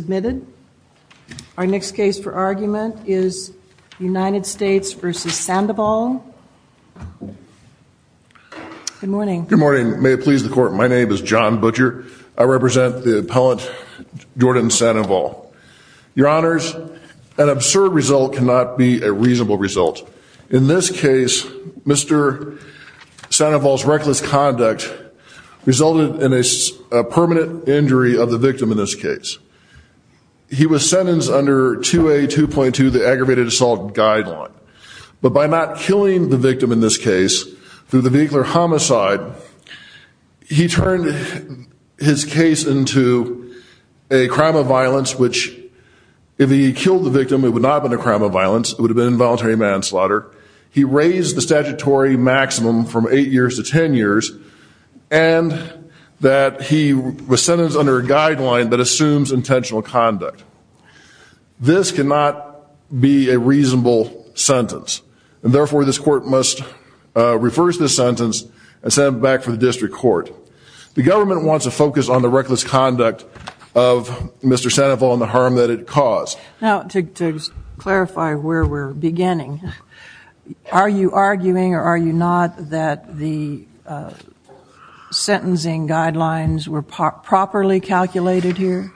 submitted. Our next case for argument is United States v. Sandoval. Good morning. Good morning. May it please the court. My name is John Butcher. I represent the appellant Jordan Sandoval. Your honors, an absurd result cannot be a reasonable result. In this case, Mr. Sandoval's was sentenced under 2A2.2, the aggravated assault guideline. But by not killing the victim in this case, through the vehicular homicide, he turned his case into a crime of violence, which if he killed the victim, it would not have been a crime of violence. It would have been involuntary manslaughter. He raised the statutory maximum from eight years to 10 years, and that he was This cannot be a reasonable sentence, and therefore this court must reverse this sentence and send it back for the district court. The government wants to focus on the reckless conduct of Mr. Sandoval and the harm that it caused. Now, to clarify where we're beginning, are you arguing or are you not that the sentencing guidelines were properly calculated here?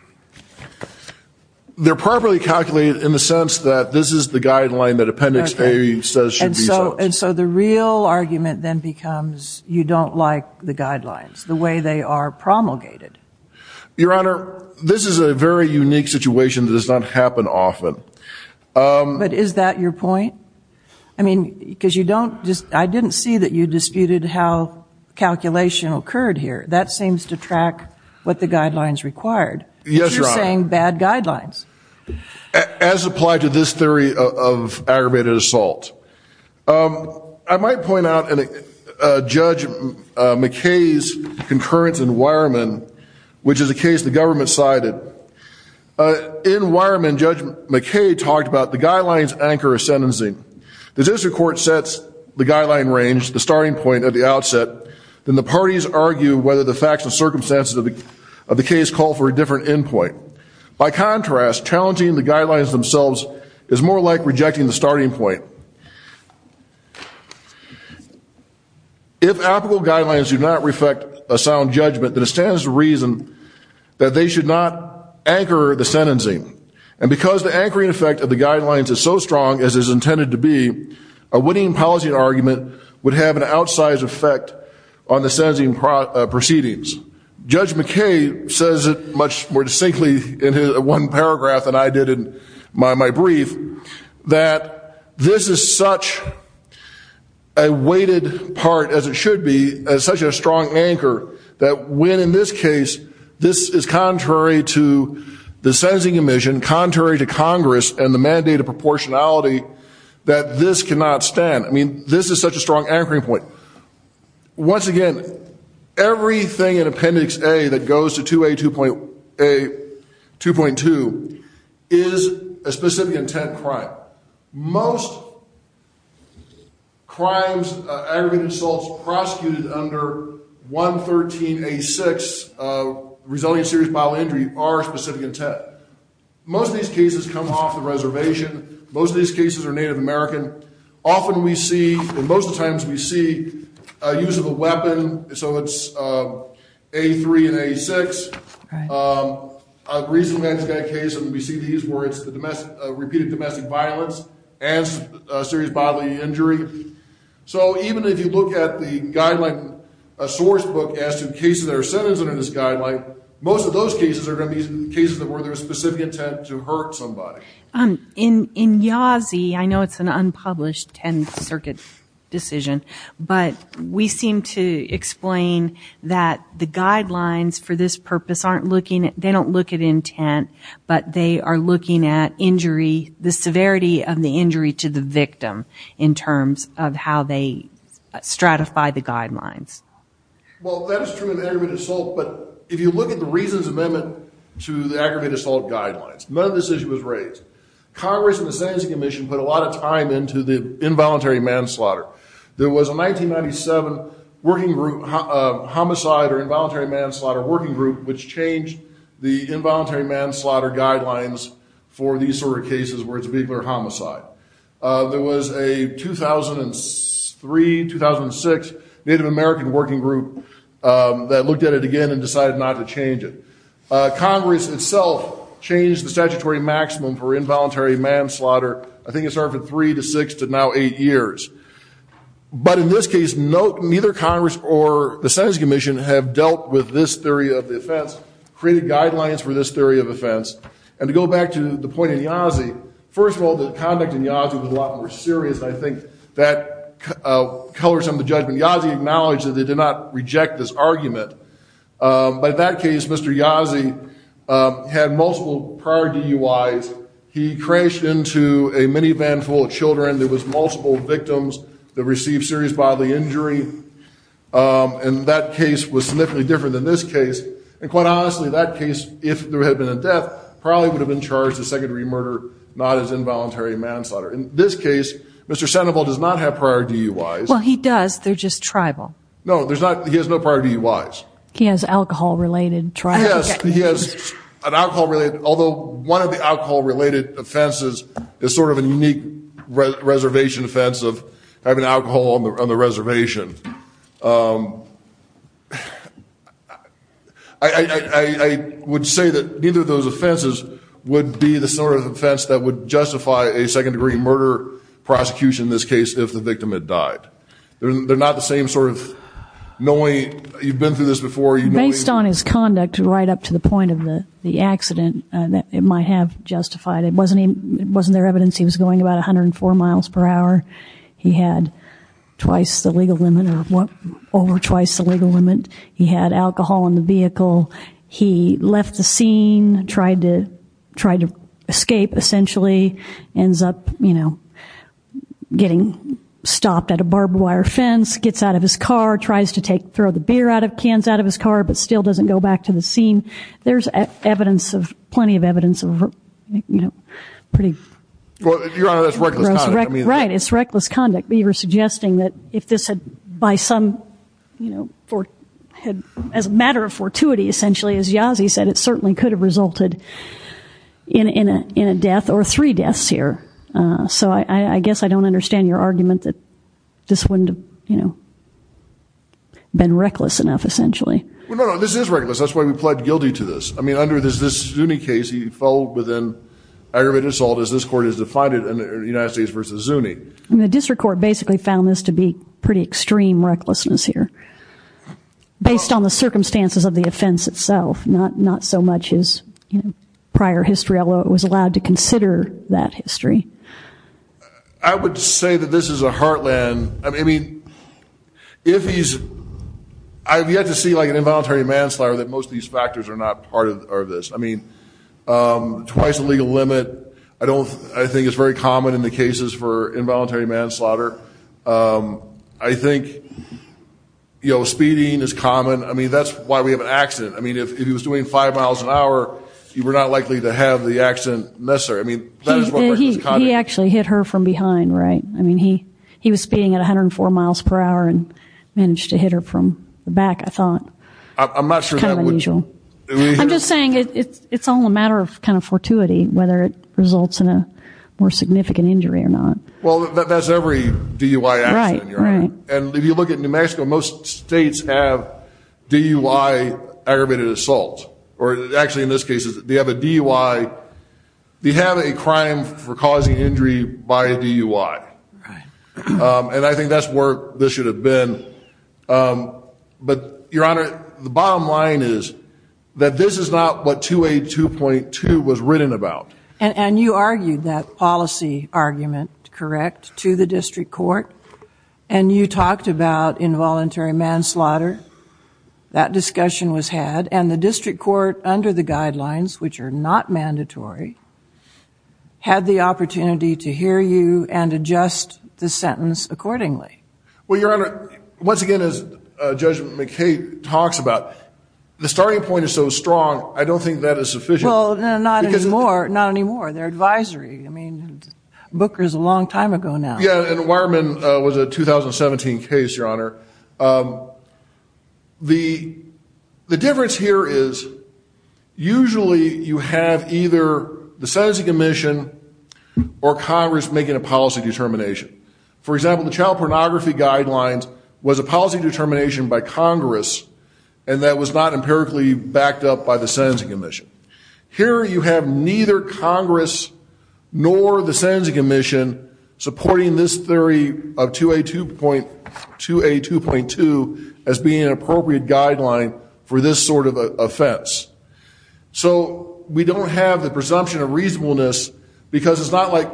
They're properly calculated in the sense that this is the guideline that Appendix A says should be set. And so the real argument then becomes you don't like the guidelines, the way they are promulgated. Your honor, this is a very unique situation that does not happen often. But is that your point? I mean, because you don't just, I didn't see that you disputed how calculation occurred here. That seems to track what the guidelines required. Yes, your honor. But you're saying bad guidelines. As applied to this theory of aggravated assault. I might point out Judge McKay's concurrence in Wireman, which is a case the government cited. In Wireman, Judge McKay talked about the guidelines anchor a sentencing. The district court sets the guideline range, the starting point at the outset, then the parties argue whether the facts and circumstances of the case call for a different endpoint. By contrast, challenging the guidelines themselves is more like rejecting the starting point. If applicable guidelines do not reflect a sound judgment, then it stands to reason that they should not anchor the sentencing. And because the anchoring effect of the guidelines is so strong as is intended to be, a winning policy argument would have an outsized effect on the sentencing proceedings. Judge McKay says it much more distinctly in his one paragraph than I did in my brief, that this is such a weighted part, as it should be, as such a strong anchor, that when in this case, this is contrary to the sentencing commission, contrary to Congress and mandated proportionality, that this cannot stand. I mean, this is such a strong anchoring point. Once again, everything in Appendix A that goes to 2A2.2 is a specific intent crime. Most crimes, aggravated assaults, prosecuted under 113A6, resilient serious bodily injury, are specific intent. Most of these cases come off the reservation. Most of these cases are Native American. Often we see, and most of the times we see, use of a weapon. So it's A3 and A6. A recent case, and we see these, where it's repeated domestic violence and serious bodily injury. So even if you look at the guideline source book as to cases that are specific intent to hurt somebody. In Yazi, I know it's an unpublished 10th Circuit decision, but we seem to explain that the guidelines for this purpose aren't looking at, they don't look at intent, but they are looking at injury, the severity of the injury to the victim, in terms of how they stratify the guidelines. Well, that is true in aggravated assault, but if you look at the Reasons Amendment to the aggravated assault guidelines, none of this issue was raised. Congress and the Sentencing Commission put a lot of time into the involuntary manslaughter. There was a 1997 working group, homicide or involuntary manslaughter working group, which changed the involuntary manslaughter guidelines for these sort of cases where it's a vehicular homicide. There was a 2003, 2006 Native American working group that looked at it again and decided not to change it. Congress itself changed the statutory maximum for involuntary manslaughter, I think it started from three to six to now eight years. But in this case, neither Congress or the Sentencing Commission have dealt with this theory of the offense, created guidelines for this theory of offense. And to go back to the First of all, the conduct in Yazzie was a lot more serious, and I think that colors some of the judgment. Yazzie acknowledged that they did not reject this argument. But in that case, Mr. Yazzie had multiple prior DUIs. He crashed into a minivan full of children. There was multiple victims that received serious bodily injury, and that case was significantly different than this case. And quite honestly, that case, if there had been a death, probably would have been charged a secondary murder, not as involuntary manslaughter. In this case, Mr. Sandoval does not have prior DUIs. Well, he does. They're just tribal. No, there's not. He has no prior DUIs. He has alcohol-related trials. Yes, he has an alcohol-related, although one of the alcohol-related offenses is sort of a unique reservation offense of having alcohol on the reservation. I would say that neither of those offenses would be the sort of offense that would justify a second degree murder prosecution in this case if the victim had died. They're not the same sort of knowing you've been through this before. Based on his conduct right up to the point of the accident, it might have justified it. Wasn't there evidence he was going about 104 miles per hour? He had twice the legal limit or over twice the legal limit. He had alcohol in the vehicle. He left the scene, tried to escape, essentially. Ends up getting stopped at a barbed wire fence, gets out of his car, tries to throw the cans out of his car, but still doesn't go back to the scene. There's plenty of evidence of pretty gross reckless conduct. Your Honor, that's reckless conduct. Right, it's reckless conduct. But you were suggesting that if this had, by some, you know, as a matter of fortuity, essentially, as Yazzie said, it certainly could have resulted in a death or three deaths here. So I guess I don't understand your argument that this wouldn't have been reckless enough, essentially. Well, no, no, this is reckless. That's why we pled guilty to this. I mean, under this Zuni case, he fell within aggravated assault as this court has defined it in the United States versus Zuni. The district court basically found this to be pretty extreme recklessness here, based on the circumstances of the offense itself, not so much as, you know, prior history, although it was allowed to consider that history. I would say that this is a heartland. I mean, if he's, I've yet to see like an involuntary manslaughter, that most of these factors are not part of this. I mean, twice the legal limit. I don't, I think it's very common in the cases for involuntary manslaughter. I think, you know, speeding is common. I mean, that's why we have an accident. I mean, if he was doing five miles an hour, you were not likely to have the accident necessary. I mean, that is what reckless conduct is. He actually hit her from behind, right? I mean, he was speeding at 104 miles per hour and managed to hit her from the back, I thought. I'm not sure that would... It's kind of unusual. I'm just saying it's all a matter of kind of fortuity, whether it results in a more significant injury or not. Well, that's every DUI accident, Your Honor. And if you look at New Mexico, most states have DUI aggravated assault. Or actually, in this case, they have a DUI, they have a crime for causing injury by a DUI. And I think that's where this should have been. But, Your Honor, the bottom line is that this is not what 282.2 was written about. And you argued that policy argument, correct, to the district court. And you talked about involuntary manslaughter. That discussion was had. And the district court, under the guidelines, which are not mandatory, had the opportunity to hear you and adjust the sentence accordingly. Well, Your Honor, once again, as Judge McCabe talks about, the starting point is so strong. I don't think that is sufficient. Well, not anymore. Not anymore. They're advisory. I mean, Booker's a long time ago now. Yeah, and Wireman was a 2017 case, Your Honor. The difference here is usually you have either the sentencing commission or Congress making a policy determination. For example, the child pornography guidelines was a policy determination by Congress and that was not empirically backed up by the sentencing commission. Here you have neither Congress nor the sentencing commission supporting this theory of 282.2 as being an appropriate guideline for this sort of offense. So we don't have the presumption of reasonableness because it's not like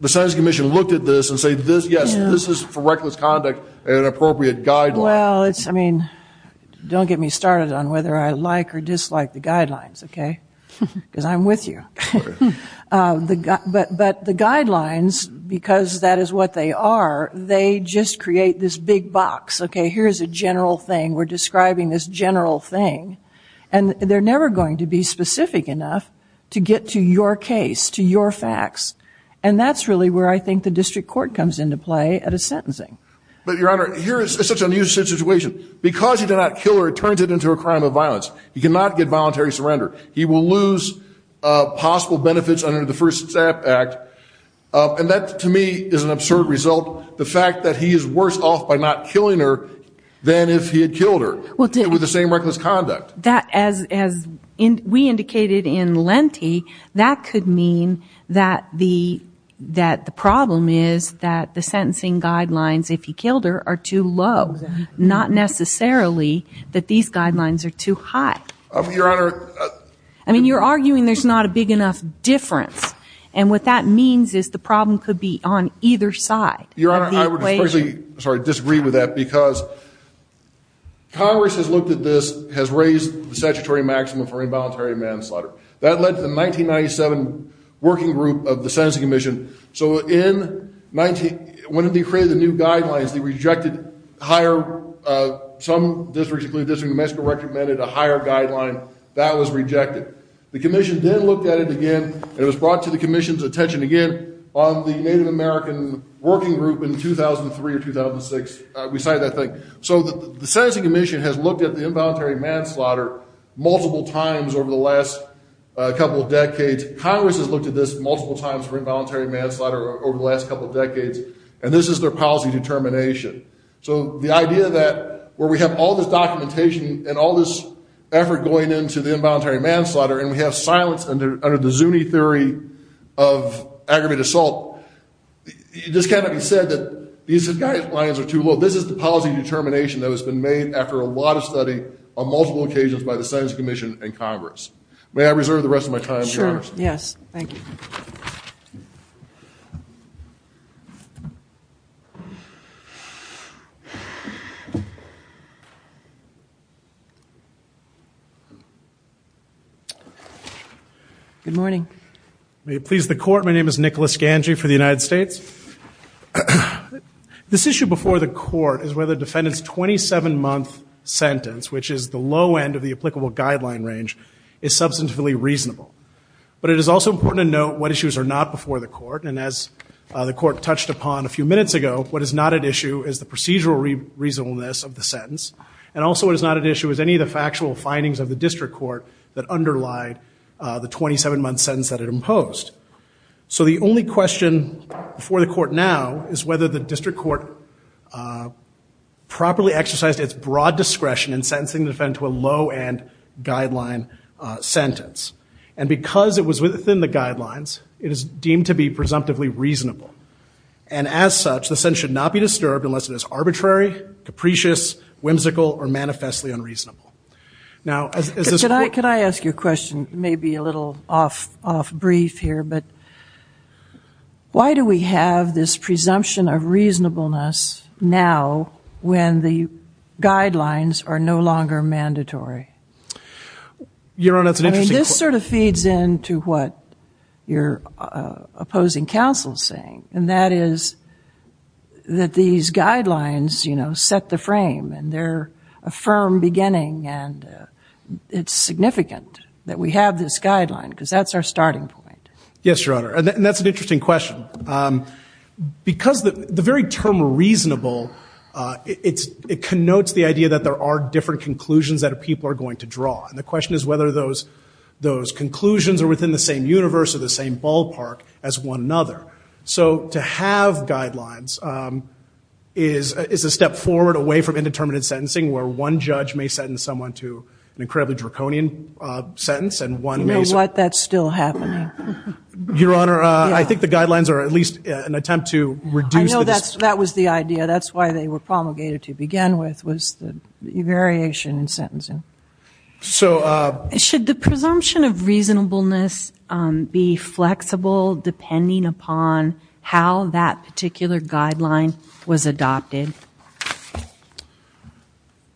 the sentencing commission looked at this and said, yes, this is, for reckless conduct, an appropriate guideline. Well, I mean, don't get me started on whether I like or dislike the guidelines, okay? Because I'm with you. But the guidelines, because that is what they are, they just create this big box. Okay, here's a general thing. We're describing this general thing. And they're never going to be specific enough to get to your case, to your facts. And that's really where I think the district court comes into play at a sentencing. But, Your Honor, here is such an unusual situation. Because he did not kill her, it turns it into a crime of violence. He cannot get voluntary surrender. He will lose possible benefits under the First Step Act. And that, to me, is an absurd result, the fact that he is worse off by not killing her than if he had killed her with the same reckless conduct. That, as we indicated in Lenti, that could mean that the problem is that the sentencing guidelines, if he killed her, are too low. Not necessarily that these guidelines are too high. Well, Your Honor. I mean, you're arguing there's not a big enough difference. And what that means is the problem could be on either side of the equation. Your Honor, I would especially, sorry, disagree with that. Because Congress has looked at this, has raised the statutory maximum for involuntary manslaughter. That led to the 1997 Working Group of the Sentencing Commission. So when they created the new guidelines, they rejected higher, some districts, including the District of New Mexico, recommended a higher guideline. That was rejected. The commission then looked at it again. And it was brought to the commission's attention again on the Native American Working Group in 2003 or 2006. We cited that thing. So the Sentencing Commission has looked at the involuntary manslaughter multiple times over the last couple of decades. Congress has looked at this multiple times for involuntary manslaughter over the last couple of decades. And this is their policy determination. So the idea that where we have all this documentation and all this effort going into the involuntary manslaughter, and we have silence under the Zuni theory of aggravated assault, it just cannot be said that these guidelines are too low. This is the policy determination that has been made after a lot of study on multiple occasions by the Sentencing Commission and Congress. May I reserve the rest of my time, Your Honor? Sure, yes. Good morning. May it please the Court. My name is Nicholas Ganji for the United States. This issue before the court is whether the defendant's 27-month sentence, which is the low end of the applicable guideline range, is substantively reasonable. But it is also important to note what issues are not before the court. And as the court touched upon a few minutes ago, what is not at issue is the procedural reasonableness of the sentence. And also what is not at issue is any of the factual findings of the district court that underlie the 27-month sentence that it imposed. So the only question before the court now is whether the district court properly exercised its broad discretion in sentencing the defendant to a low-end guideline sentence. And because it was within the guidelines, it is deemed to be presumptively reasonable. And as such, the sentence should not be disturbed unless it is arbitrary, capricious, whimsical, or manifestly unreasonable. Now, as this court— Could I ask you a question, maybe a little off-brief here? But why do we have this presumption of reasonableness now when the guidelines are no longer mandatory? Your Honor, that's an interesting question. I mean, this sort of feeds into what your opposing counsel is saying. And that is that these guidelines, you know, set the frame. And they're a firm beginning. And it's significant that we have this guideline, because that's our starting point. Yes, Your Honor. And that's an interesting question. Because the very term reasonable, it connotes the idea that there are different conclusions that people are going to draw. And the question is whether those conclusions are within the same universe or the same ballpark as one another. So to have guidelines is a step forward away from indeterminate sentencing, where one judge may sentence someone to an incredibly draconian sentence, and one may— You know what? That's still happening. Your Honor, I think the guidelines are at least an attempt to reduce— I know that was the idea. That's why they were promulgated to begin with, was the variation in sentencing. So— Should the presumption of reasonableness be flexible depending upon how that particular guideline was adopted?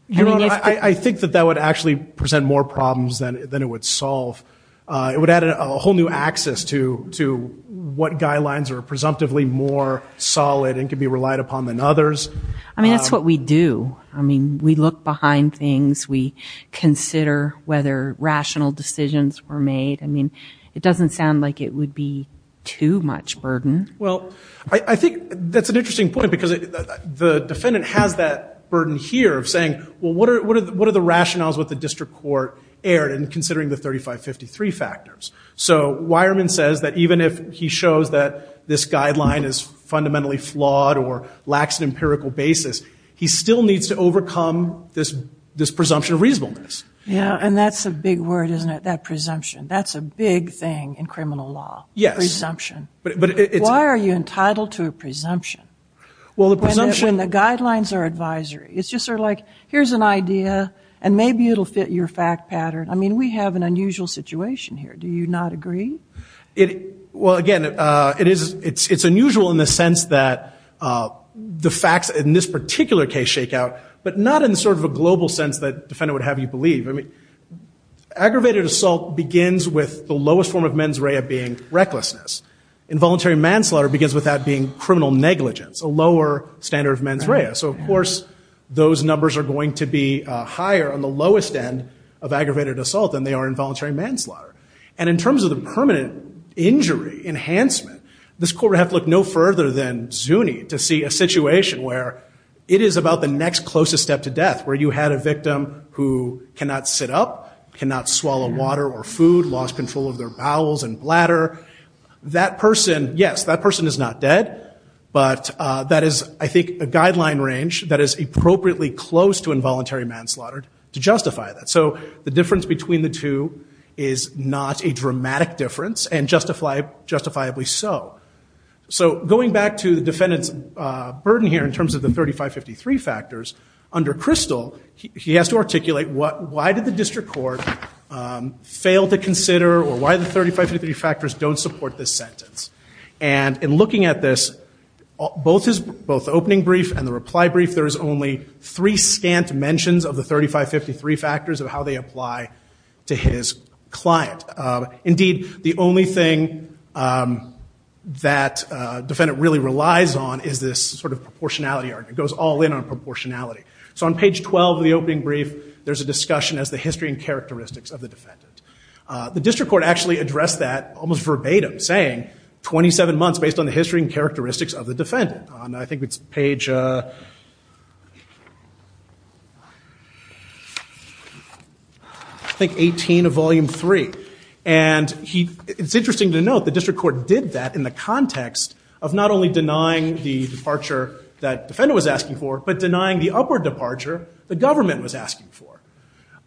Your Honor, I think that that would actually present more problems than it would solve. It would add a whole new axis to what guidelines are presumptively more solid and can be relied upon than others. I mean, that's what we do. I mean, we look behind things. We consider whether rational decisions were made. I mean, it doesn't sound like it would be too much burden. Well, I think that's an interesting point because the defendant has that burden here of saying, well, what are the rationales with the district court erred in considering the 3553 factors? So Weyermann says that even if he shows that this guideline is fundamentally flawed or lacks an empirical basis, he still needs to overcome this presumption of reasonableness. Yeah, and that's a big word, isn't it? That presumption. That's a big thing in criminal law. Yes. Presumption. Why are you entitled to a presumption? Well, the presumption— When the guidelines are advisory, it's just sort of like, here's an idea, and maybe it'll fit your fact pattern. I mean, we have an unusual situation here. Do you not agree? Well, again, it's unusual in the sense that the facts in this particular case shake out, but not in sort of a global sense that a defendant would have you believe. Aggravated assault begins with the lowest form of mens rea being recklessness. Involuntary manslaughter begins with that being criminal negligence, a lower standard of mens rea. So, of course, those numbers are going to be higher on the lowest end of aggravated assault than they are involuntary manslaughter. And in terms of the permanent injury enhancement, this court would have to look no further than Zuni to see a situation where it is about the next closest step to death, where you had a victim who cannot sit up, cannot swallow water or food, lost control of their bowels and bladder. That person, yes, that person is not dead, but that is, I think, a guideline range that is appropriately close to involuntary manslaughter to justify that. So the difference between the two is not a dramatic difference, and justifiably so. So going back to the defendant's burden here in terms of the 3553 factors, under Crystal, he has to articulate why did the district court fail to consider or why the 3553 factors don't support this sentence. And in looking at this, both the opening brief and the reply brief, there is only three scant mentions of the 3553 factors of how they apply to his client. Indeed, the only thing that defendant really relies on is this sort of proportionality argument. It goes all in on proportionality. So on page 12 of the opening brief, there's a discussion as the history and characteristics of the defendant. The district court actually addressed that almost verbatim saying, 27 months based on the history and characteristics of the defendant. And I think it's page, I think, 18 of volume three. And it's interesting to note the district court did that in the context of not only denying the departure that defendant was asking for, but denying the upward departure the government was asking for.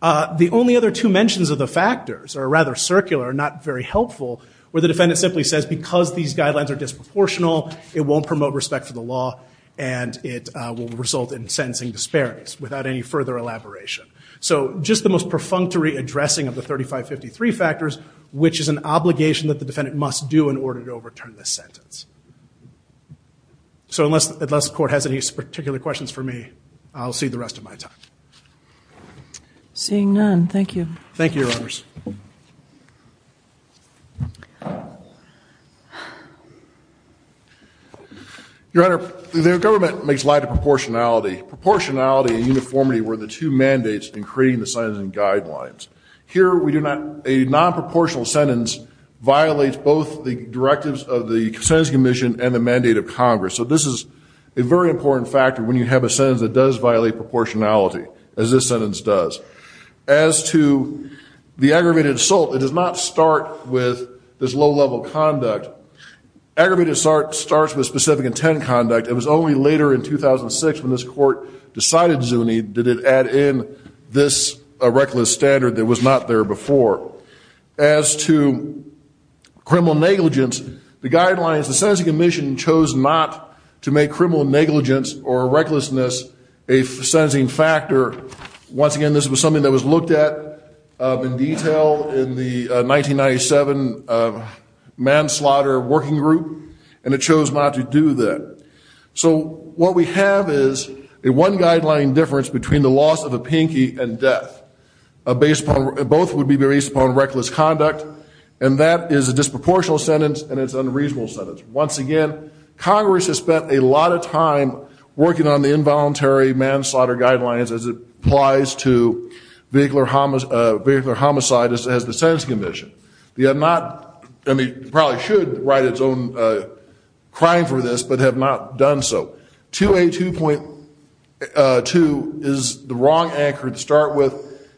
The only other two mentions of the factors are rather circular, not very helpful, where the defendant simply says, because these guidelines are disproportional, it won't promote respect for the law. And it will result in sentencing disparities without any further elaboration. So just the most perfunctory addressing of the 3553 factors, which is an obligation that the defendant must do in order to overturn the sentence. So unless the court has any particular questions for me, I'll see the rest of my time. Seeing none, thank you. Thank you, Your Honors. Your Honor, the government makes light of proportionality. Proportionality and uniformity were the two mandates in creating the sentencing guidelines. Here, a non-proportional sentence violates both the directives of the Sentencing Commission and the mandate of Congress. So this is a very important factor when you have a sentence that does violate proportionality, as this sentence does. As to the aggravated assault, it does not start with this low-level conduct. Aggravated assault starts with specific intent conduct. It was only later in 2006 when this court decided, Zuni, did it add in this reckless standard that was not there before. As to criminal negligence, the guidelines, the Sentencing Commission chose not to make criminal negligence or recklessness a sentencing factor. Once again, this was something that was looked at in detail in the 1997 manslaughter working group, and it chose not to do that. So what we have is a one-guideline difference between the loss of a pinky and death. Both would be based upon reckless conduct, and that is a disproportional sentence and it's an unreasonable sentence. Once again, Congress has spent a lot of time working on the involuntary manslaughter guidelines as it applies to vehicular homicide as the Sentencing Commission. They have not, I mean, probably should write its own crime for this, but have not done so. 2A2.2 is the wrong anchor to start with,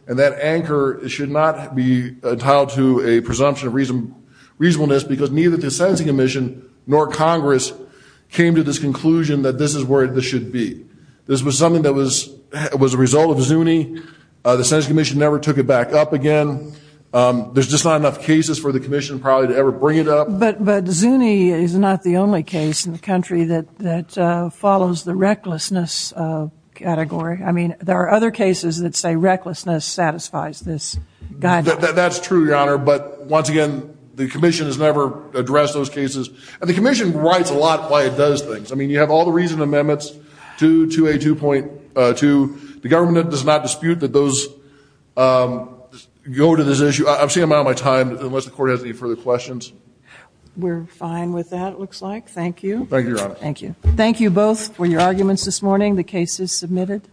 and that anchor should not be entitled to a presumption of reasonableness because neither the Sentencing Commission nor Congress came to this conclusion that this is where this should be. This was something that was a result of Zuni. The Sentencing Commission never took it back up again. There's just not enough cases for the Commission probably to ever bring it up. But Zuni is not the only case in the country that follows the recklessness category. I mean, there are other cases that say recklessness satisfies this guideline. That's true, Your Honor. But once again, the Commission has never addressed those cases. And the Commission writes a lot why it does things. I mean, you have all the reason amendments to 2A2.2. The government does not dispute that those go to this issue. I'm seeing I'm out of my time unless the Court has any further questions. We're fine with that, it looks like. Thank you. Thank you, Your Honor. Thank you. Thank you both for your arguments this morning. The case is submitted.